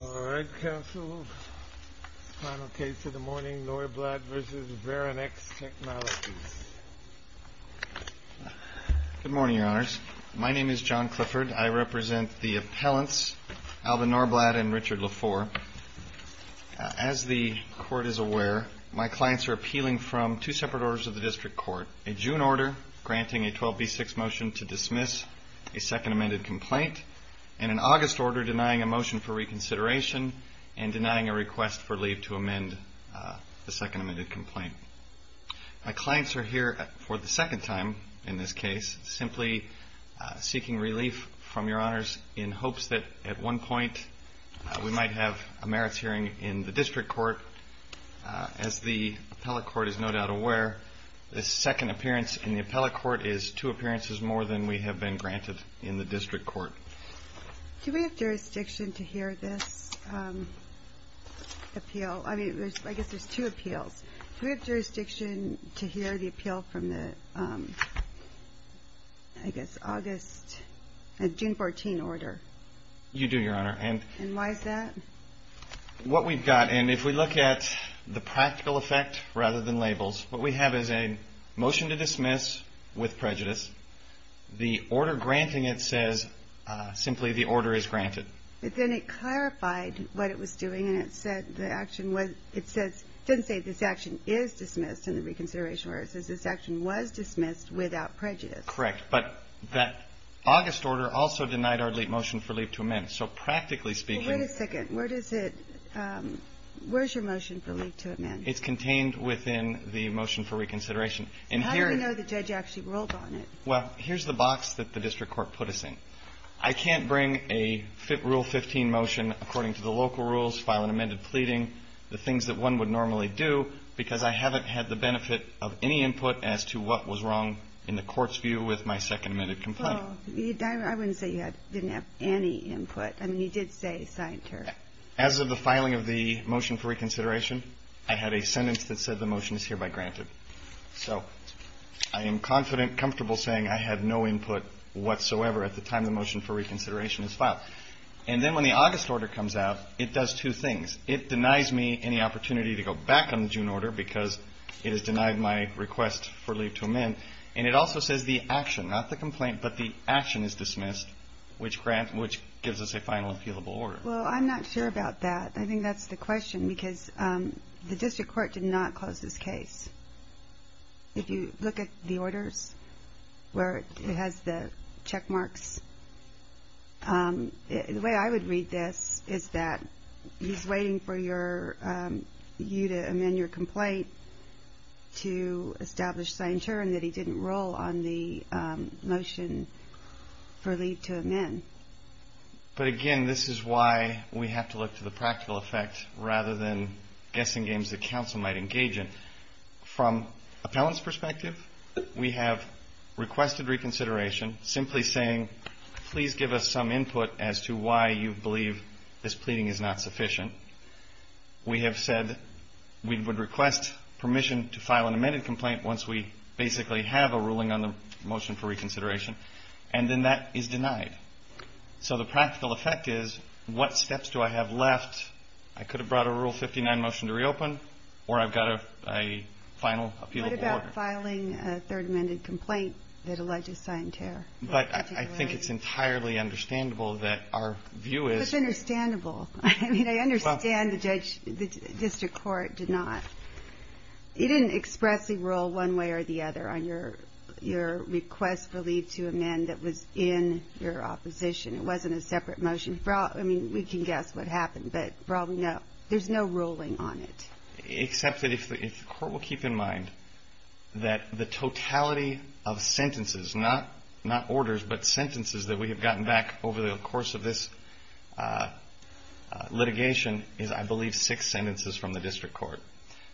Good morning, Your Honors. My name is John Clifford. I represent the appellants Alvin Norblad and Richard Lafour. As the Court is aware, my clients are appealing from two separate orders of the District Court, a June order granting a 12b6 motion to dismiss a Second Consideration and denying a request for leave to amend the Second Complaint. My clients are here for the second time in this case, simply seeking relief from Your Honors in hopes that at one point we might have a merits hearing in the District Court. As the Appellate Court is no doubt aware, this second appearance in the Appellate Court is two appearances more than we have been granted in the District Court. Do we have jurisdiction to hear this appeal? I mean, I guess there's two appeals. Do we have jurisdiction to hear the appeal from the, I guess, August, June 14 order? You do, Your Honor. And why is that? What we've got, and if we look at the practical effect rather than labels, what we have is a motion to dismiss with prejudice. The order granting it says simply the order is granted. But then it clarified what it was doing, and it said the action was, it says, it doesn't say this action is dismissed in the reconsideration order. It says this action was dismissed without prejudice. Correct. But that August order also denied our motion for leave to amend. So practically speaking… Well, wait a second. Where does it, where's your motion for leave to amend? It's contained within the motion for reconsideration. How do you know the judge actually ruled on it? Well, here's the box that the District Court put us in. I can't bring a Rule 15 motion according to the local rules, file an amended pleading, the things that one would normally do, because I haven't had the benefit of any input as to what was wrong in the Court's view with my second amended complaint. Well, I wouldn't say you didn't have any input. I mean, you did say signed her. As of the filing of the motion for reconsideration, I had a sentence that said the motion is hereby granted. So I am confident, comfortable saying I had no input whatsoever at the time the motion for reconsideration is filed. And then when the August order comes out, it does two things. It denies me any opportunity to go back on the June order because it has denied my request for leave to amend. And it also says the action, not the complaint, but the action is dismissed, which grant, which gives us a final appealable order. Well, I'm not sure about that. I think that's the question because the District Court did not close this case. If you look at the orders where it has the check marks, the way I would read this is that he's waiting for you to amend your complaint to establish signed her and that he didn't roll on the motion for leave to amend. But again, this is why we have to look to the practical effect rather than guessing games that counsel might engage in. From appellant's perspective, we have requested reconsideration simply saying, please give us some input as to why you believe this pleading is not sufficient. We have said we would request permission to file an amended complaint once we basically have a ruling on the motion for reconsideration. And then that is denied. So the practical effect is what steps do I have left? I could have brought a Rule 59 motion to reopen, or I've got a final appealable order. What about filing a third amended complaint that alleges signed her? But I think it's entirely understandable that our view is. It's understandable. I mean, I understand the District Court did not. It didn't express the rule one way or the other on your request for leave to amend that was in your opposition. It wasn't a separate motion. I mean, we can guess what happened, but probably not. There's no ruling on it. Except that if the court will keep in mind that the totality of sentences, not orders, but sentences that we have gotten back over the course of this litigation is, I believe, six sentences from the District Court.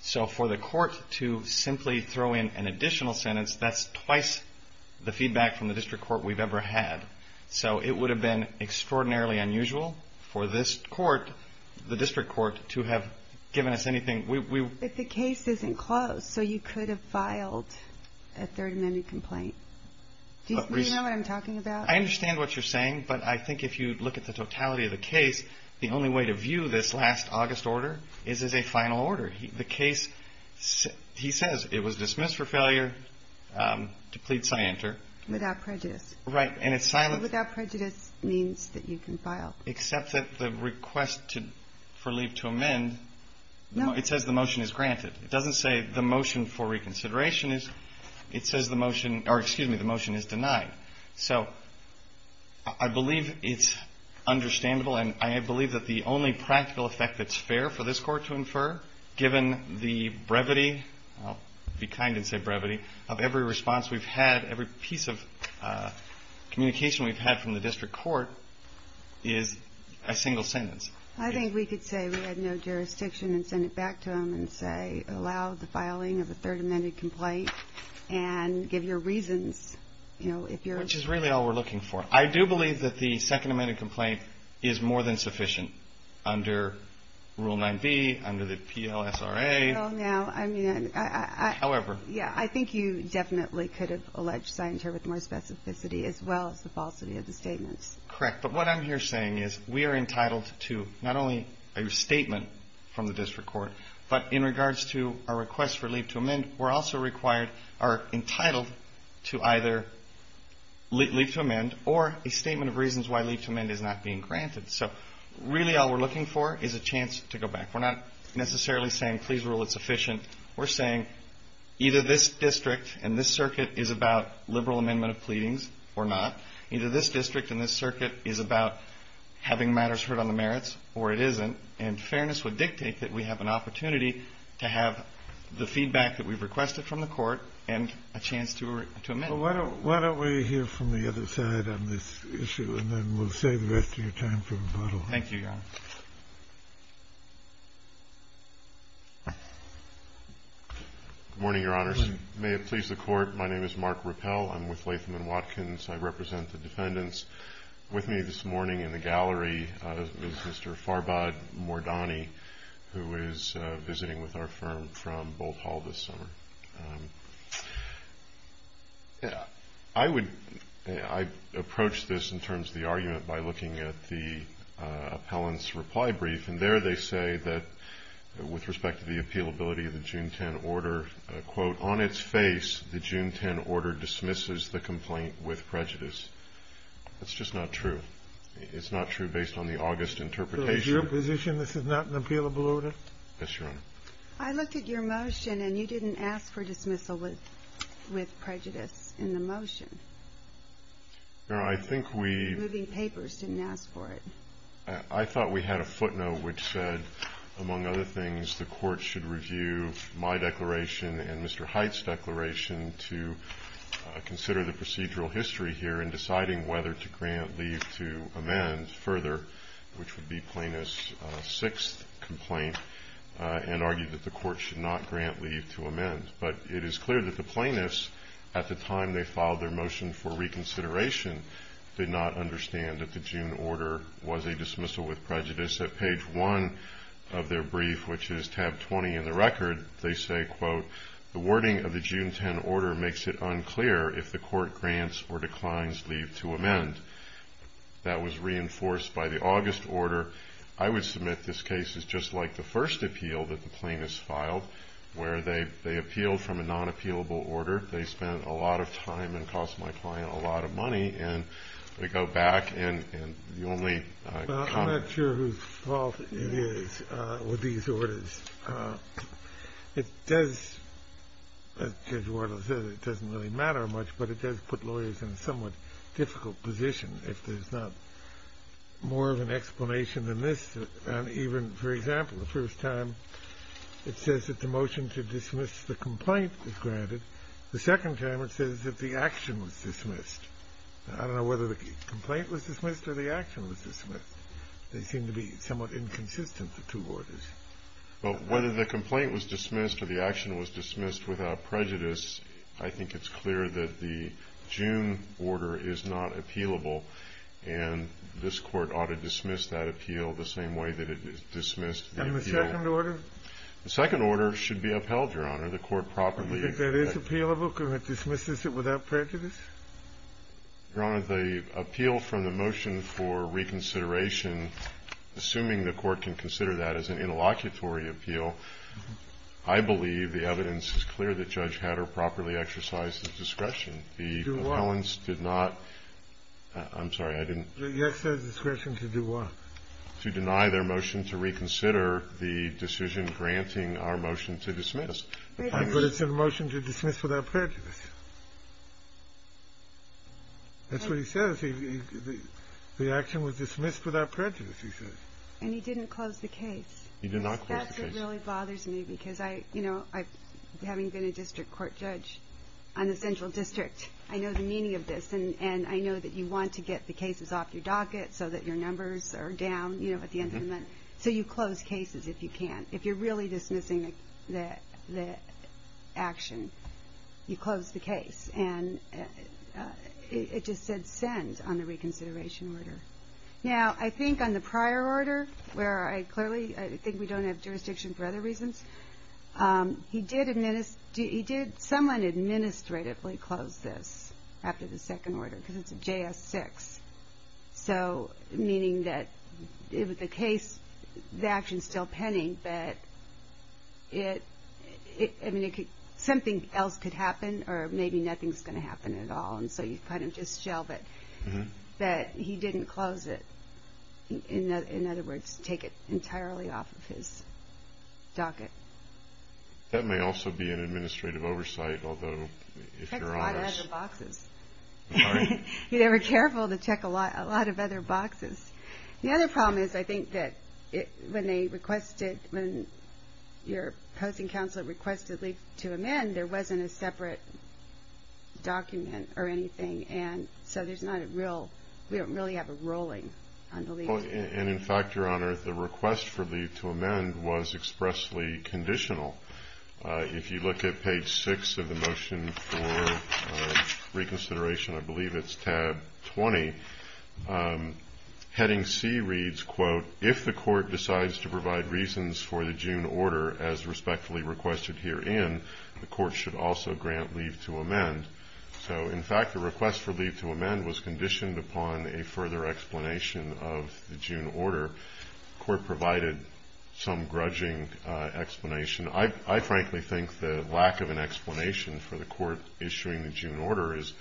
So for the court to simply throw in an additional sentence, that's twice the feedback from the District Court we've ever had. So it would have been extraordinarily unusual for this court, the District Court, to have given us anything. If the case isn't closed, so you could have filed a third amended complaint. Do you know what I'm talking about? I understand what you're saying, but I think if you look at the totality of the case, the only way to view this last August order is as a final order. The case, he says it was dismissed for failure to plead scienter. Without prejudice. Right. And it's silent. So without prejudice means that you can file. Except that the request for leave to amend, it says the motion is granted. It doesn't say the motion for reconsideration is. It says the motion, or excuse me, the motion is denied. So I believe it's understandable, and I believe that the only practical effect that's fair for this Court to infer, given the brevity, I'll be kind and say communication we've had from the District Court is a single sentence. I think we could say we had no jurisdiction and send it back to him and say, allow the filing of a third amended complaint and give your reasons, you know, if you're. Which is really all we're looking for. I do believe that the second amended complaint is more than sufficient under Rule 9b, under the PLSRA. Well, now, I mean, I. However. Yeah, I think you definitely could have alleged scienter with more specificity, as well as the falsity of the statements. Correct. But what I'm here saying is we are entitled to not only a statement from the District Court, but in regards to our request for leave to amend, we're also required, are entitled to either leave to amend or a statement of reasons why leave to amend is not being granted. So really, all we're looking for is a chance to go back. We're not necessarily saying, please rule it sufficient. We're saying either this district and this circuit is about liberal amendment of pleadings or not. Either this district and this circuit is about having matters heard on the merits or it isn't. And fairness would dictate that we have an opportunity to have the feedback that we've requested from the court and a chance to amend. Well, why don't we hear from the other side on this issue and then we'll save the rest of your time for rebuttal. Thank you, Your Honor. Good morning, Your Honors. May it please the Court, my name is Mark Ruppell. I'm with Latham & Watkins. I represent the defendants. With me this morning in the gallery is Mr. Farbad Mordani, who is visiting with our firm from Boalt Hall this summer. I approach this in terms of the argument by looking at the appellant's reply brief. And there they say that, with respect to the appealability of the June 10 order, quote, on its face, the June 10 order dismisses the complaint with prejudice. That's just not true. It's not true based on the August interpretation. So is your position this is not an appealable order? Yes, Your Honor. I looked at your motion and you didn't ask for dismissal with prejudice in the motion. No, I think we — Moving papers didn't ask for it. I thought we had a footnote which said, among other things, the Court should review my declaration and Mr. Hite's declaration to consider the procedural history here in deciding whether to grant leave to amend further, which would be Plaintiff's sixth complaint, and argued that the Court should not grant leave to amend. But it is clear that the plaintiffs, at the time they filed their motion for reconsideration, did not understand that the June order was a dismissal with prejudice. At page one of their brief, which is tab 20 in the record, they say, quote, the wording of the June 10 order makes it unclear if the Court grants or declines leave to amend. That was reinforced by the August order. I would submit this case is just like the first appeal that the plaintiffs filed, where they appealed from a non-appealable order. They spent a lot of time and cost my client a lot of money, and they go back, and the only comment — I'm not sure whose fault it is with these orders. It does — as Judge Wardle said, it doesn't really matter much, but it does put lawyers in a somewhat difficult position if there's not more of an explanation than this. And even, for example, the first time, it says that the motion to dismiss the complaint is granted. The second time, it says that the action was dismissed. I don't know whether the complaint was dismissed or the action was dismissed. They seem to be somewhat inconsistent, the two orders. Well, whether the complaint was dismissed or the action was dismissed without prejudice, I think it's clear that the June order is not appealable, and this Court ought to dismiss that appeal the same way that it dismissed the appeal — And the second order? The second order should be upheld, Your Honor. The Court properly — If that is appealable, can it dismiss it without prejudice? Your Honor, the appeal from the motion for reconsideration, assuming the Court can consider that as an interlocutory appeal, I believe the evidence is clear that Judge Hatter properly exercised his discretion. To do what? The appellants did not — I'm sorry, I didn't — You said discretion to do what? To deny their motion to reconsider the decision granting our motion to dismiss. But it's in the motion to dismiss without prejudice. That's what he says. The action was dismissed without prejudice, he says. And he didn't close the case. He did not close the case. That's what really bothers me, because I — you know, I — having been a district court judge on the central district, I know the meaning of this, and I know that you want to get the cases off your docket so that your numbers are down, you know, at the end of the month. So you close cases if you can, if you're really dismissing the action, you close the case. And it just said send on the reconsideration order. Now, I think on the prior order, where I clearly — I think we don't have jurisdiction for other reasons, he did — he did somewhat administratively close this after the second order, because it's a J.S. 6. So, meaning that the case — the action's still pending, but it — I mean, it could — something else could happen, or maybe nothing's going to happen at all. And so you kind of just shelve it. But he didn't close it. In other words, take it entirely off of his docket. That may also be an administrative oversight, although, if you're honest — He took a lot out of the boxes. Sorry? He was careful to check a lot of other boxes. The other problem is, I think that when they requested — when your opposing counsel requested leave to amend, there wasn't a separate document or anything. And so there's not a real — we don't really have a ruling on the leave. And, in fact, Your Honor, the request for leave to amend was expressly conditional. If you look at page 6 of the motion for reconsideration, I believe it's tab 20, heading C reads, quote, if the court decides to provide reasons for the June order as respectfully requested herein, the court should also grant leave to amend. So, in fact, the request for leave to amend was conditioned upon a further explanation of the June order. The court provided some grudging explanation. I frankly think the lack of an explanation for the court issuing the June order is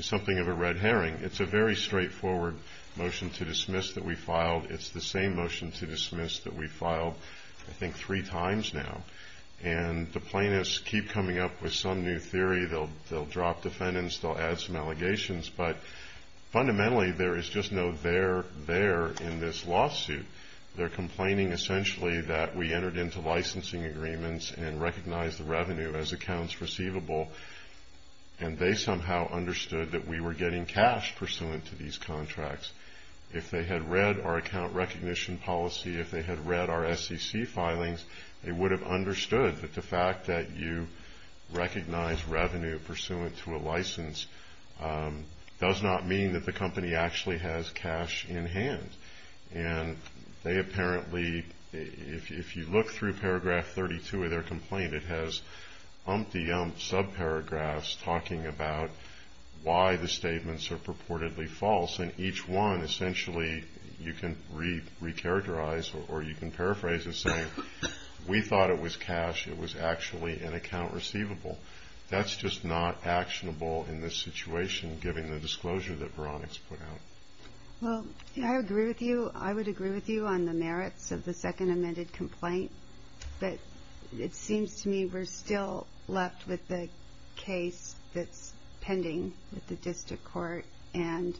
something of a red herring. It's a very straightforward motion to dismiss that we filed. It's the same motion to dismiss that we filed, I think, three times now. And the plaintiffs keep coming up with some new theory. They'll drop defendants. They'll add some allegations. But, fundamentally, there is just no there there in this lawsuit. They're complaining, essentially, that we entered into licensing agreements and recognized the revenue as accounts receivable. And they somehow understood that we were getting cash pursuant to these contracts. If they had read our account recognition policy, if they had read our SEC filings, they would have understood that the fact that you recognize revenue pursuant to a license does not mean that the company actually has cash in hand. And they apparently, if you look through paragraph 32 of their complaint, it has umpty-umpty sub-paragraphs talking about why the statements are purportedly false. And each one, essentially, you can re-characterize or you can paraphrase and say, we thought it was cash. It was actually an account receivable. That's just not actionable in this situation, given the disclosure that Veronica's put out. Well, I agree with you. I would agree with you on the merits of the second amended complaint. But it seems to me we're still left with the case that's pending with the district court. And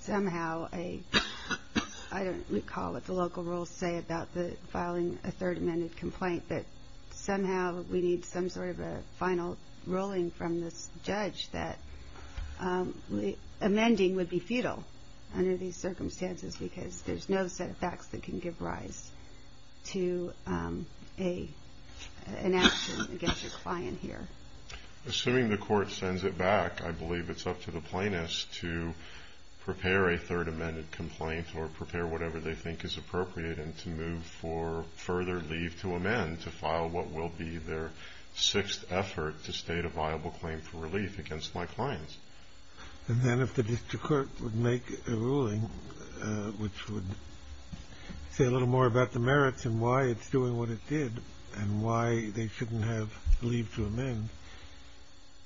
somehow, I don't recall what the local rules say about filing a third amended complaint, that somehow we need some sort of a final ruling from this judge that amending would be futile under these circumstances, because there's no set of facts that can give rise to an action against a client here. Assuming the court sends it back, I believe it's up to the plaintiffs to prepare a third amended complaint or prepare whatever they think is to amend to file what will be their sixth effort to state a viable claim for relief against my clients. And then if the district court would make a ruling which would say a little more about the merits and why it's doing what it did and why they shouldn't have leave to amend,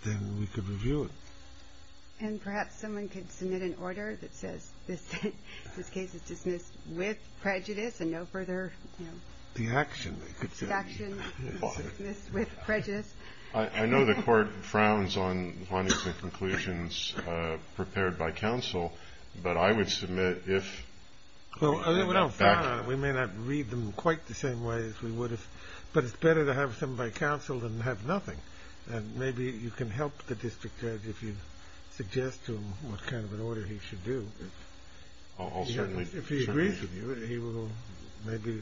then we could review it. And perhaps someone could submit an order that says this case is dismissed with prejudice and no further, you know. It's the action, they could say. The action is dismissed with prejudice. I know the court frowns on findings and conclusions prepared by counsel, but I would submit if we get back to it. We may not read them quite the same way as we would if. But it's better to have them by counsel than have nothing. And maybe you can help the district judge if you suggest to him what kind of an order he should do. I'll certainly. If he agrees with you, he will maybe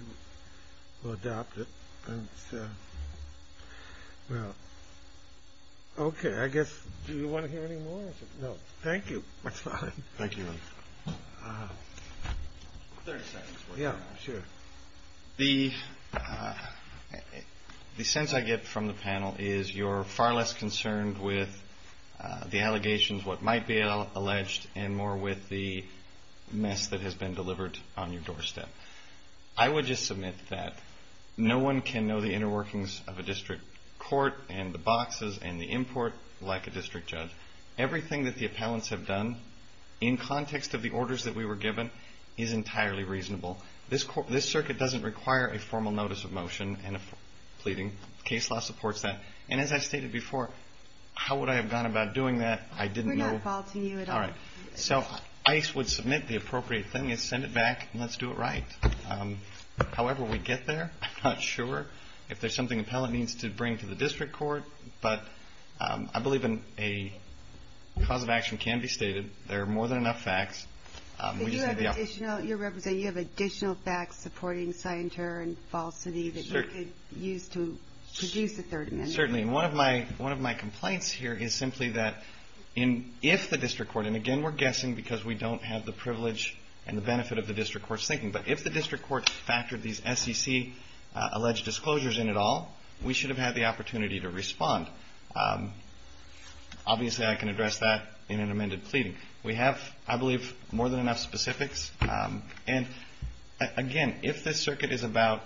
adopt it. And well, OK. I guess, do you want to hear any more? No, thank you. That's fine. Thank you. 30 seconds. Yeah, sure. The sense I get from the panel is you're far less concerned with the allegations, what might be alleged, and more with the mess that has been delivered on your doorstep. I would just submit that no one can know the inner workings of a district court and the boxes and the import like a district judge. Everything that the appellants have done in context of the orders that we were given is entirely reasonable. This circuit doesn't require a formal notice of motion and a pleading. Case law supports that. And as I stated before, how would I have gone about doing that? I didn't know. We're not faulting you at all. So I would submit the appropriate thing is send it back, and let's do it right. However we get there, I'm not sure if there's something an appellant needs to bring to the district court. But I believe a cause of action can be stated. There are more than enough facts. But you represent, you have additional facts supporting sign terror and falsity that you could use to produce a third amendment. Certainly. One of my complaints here is simply that if the district court, and again we're guessing because we don't have the privilege and the benefit of the district court's thinking, but if the district court factored these SEC alleged disclosures in at all, we should have had the opportunity to respond. Obviously I can address that in an amended pleading. We have, I believe, more than enough specifics. And again, if this circuit is about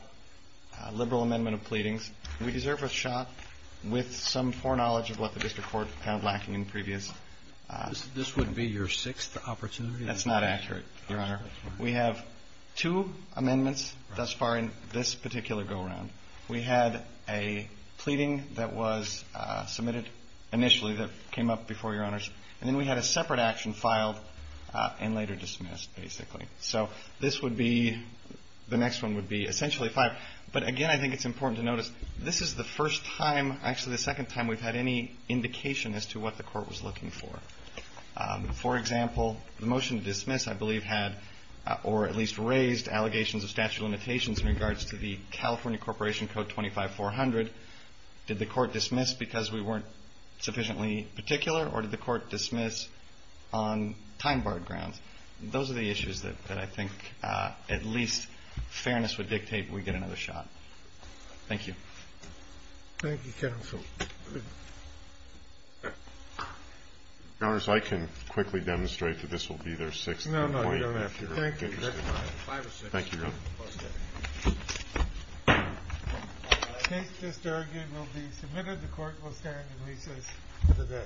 a liberal amendment of pleadings, we deserve a shot with some foreknowledge of what the district court found lacking in previous. This would be your sixth opportunity? That's not accurate, your honor. We have two amendments thus far in this particular go around. We had a pleading that was submitted initially that came up before your honors. And then we had a separate action filed and later dismissed, basically. So this would be, the next one would be essentially five. But again, I think it's important to notice, this is the first time, actually the second time we've had any indication as to what the court was looking for. For example, the motion to dismiss, I believe, had, or at least raised, allegations of statute of limitations in regards to the California Corporation Code 25400. Did the court dismiss because we weren't sufficiently particular, or did the court dismiss on time-barred grounds? Those are the issues that I think at least fairness would dictate we get another shot. Thank you. Thank you, counsel. Your honors, I can quickly demonstrate that this will be their sixth appointment. No, no, you don't have to. Thank you, that's fine. Five or six. Thank you, your honor. Okay. All right, the case just argued will be submitted. The court will stand in recess for the day. Court is adjourned.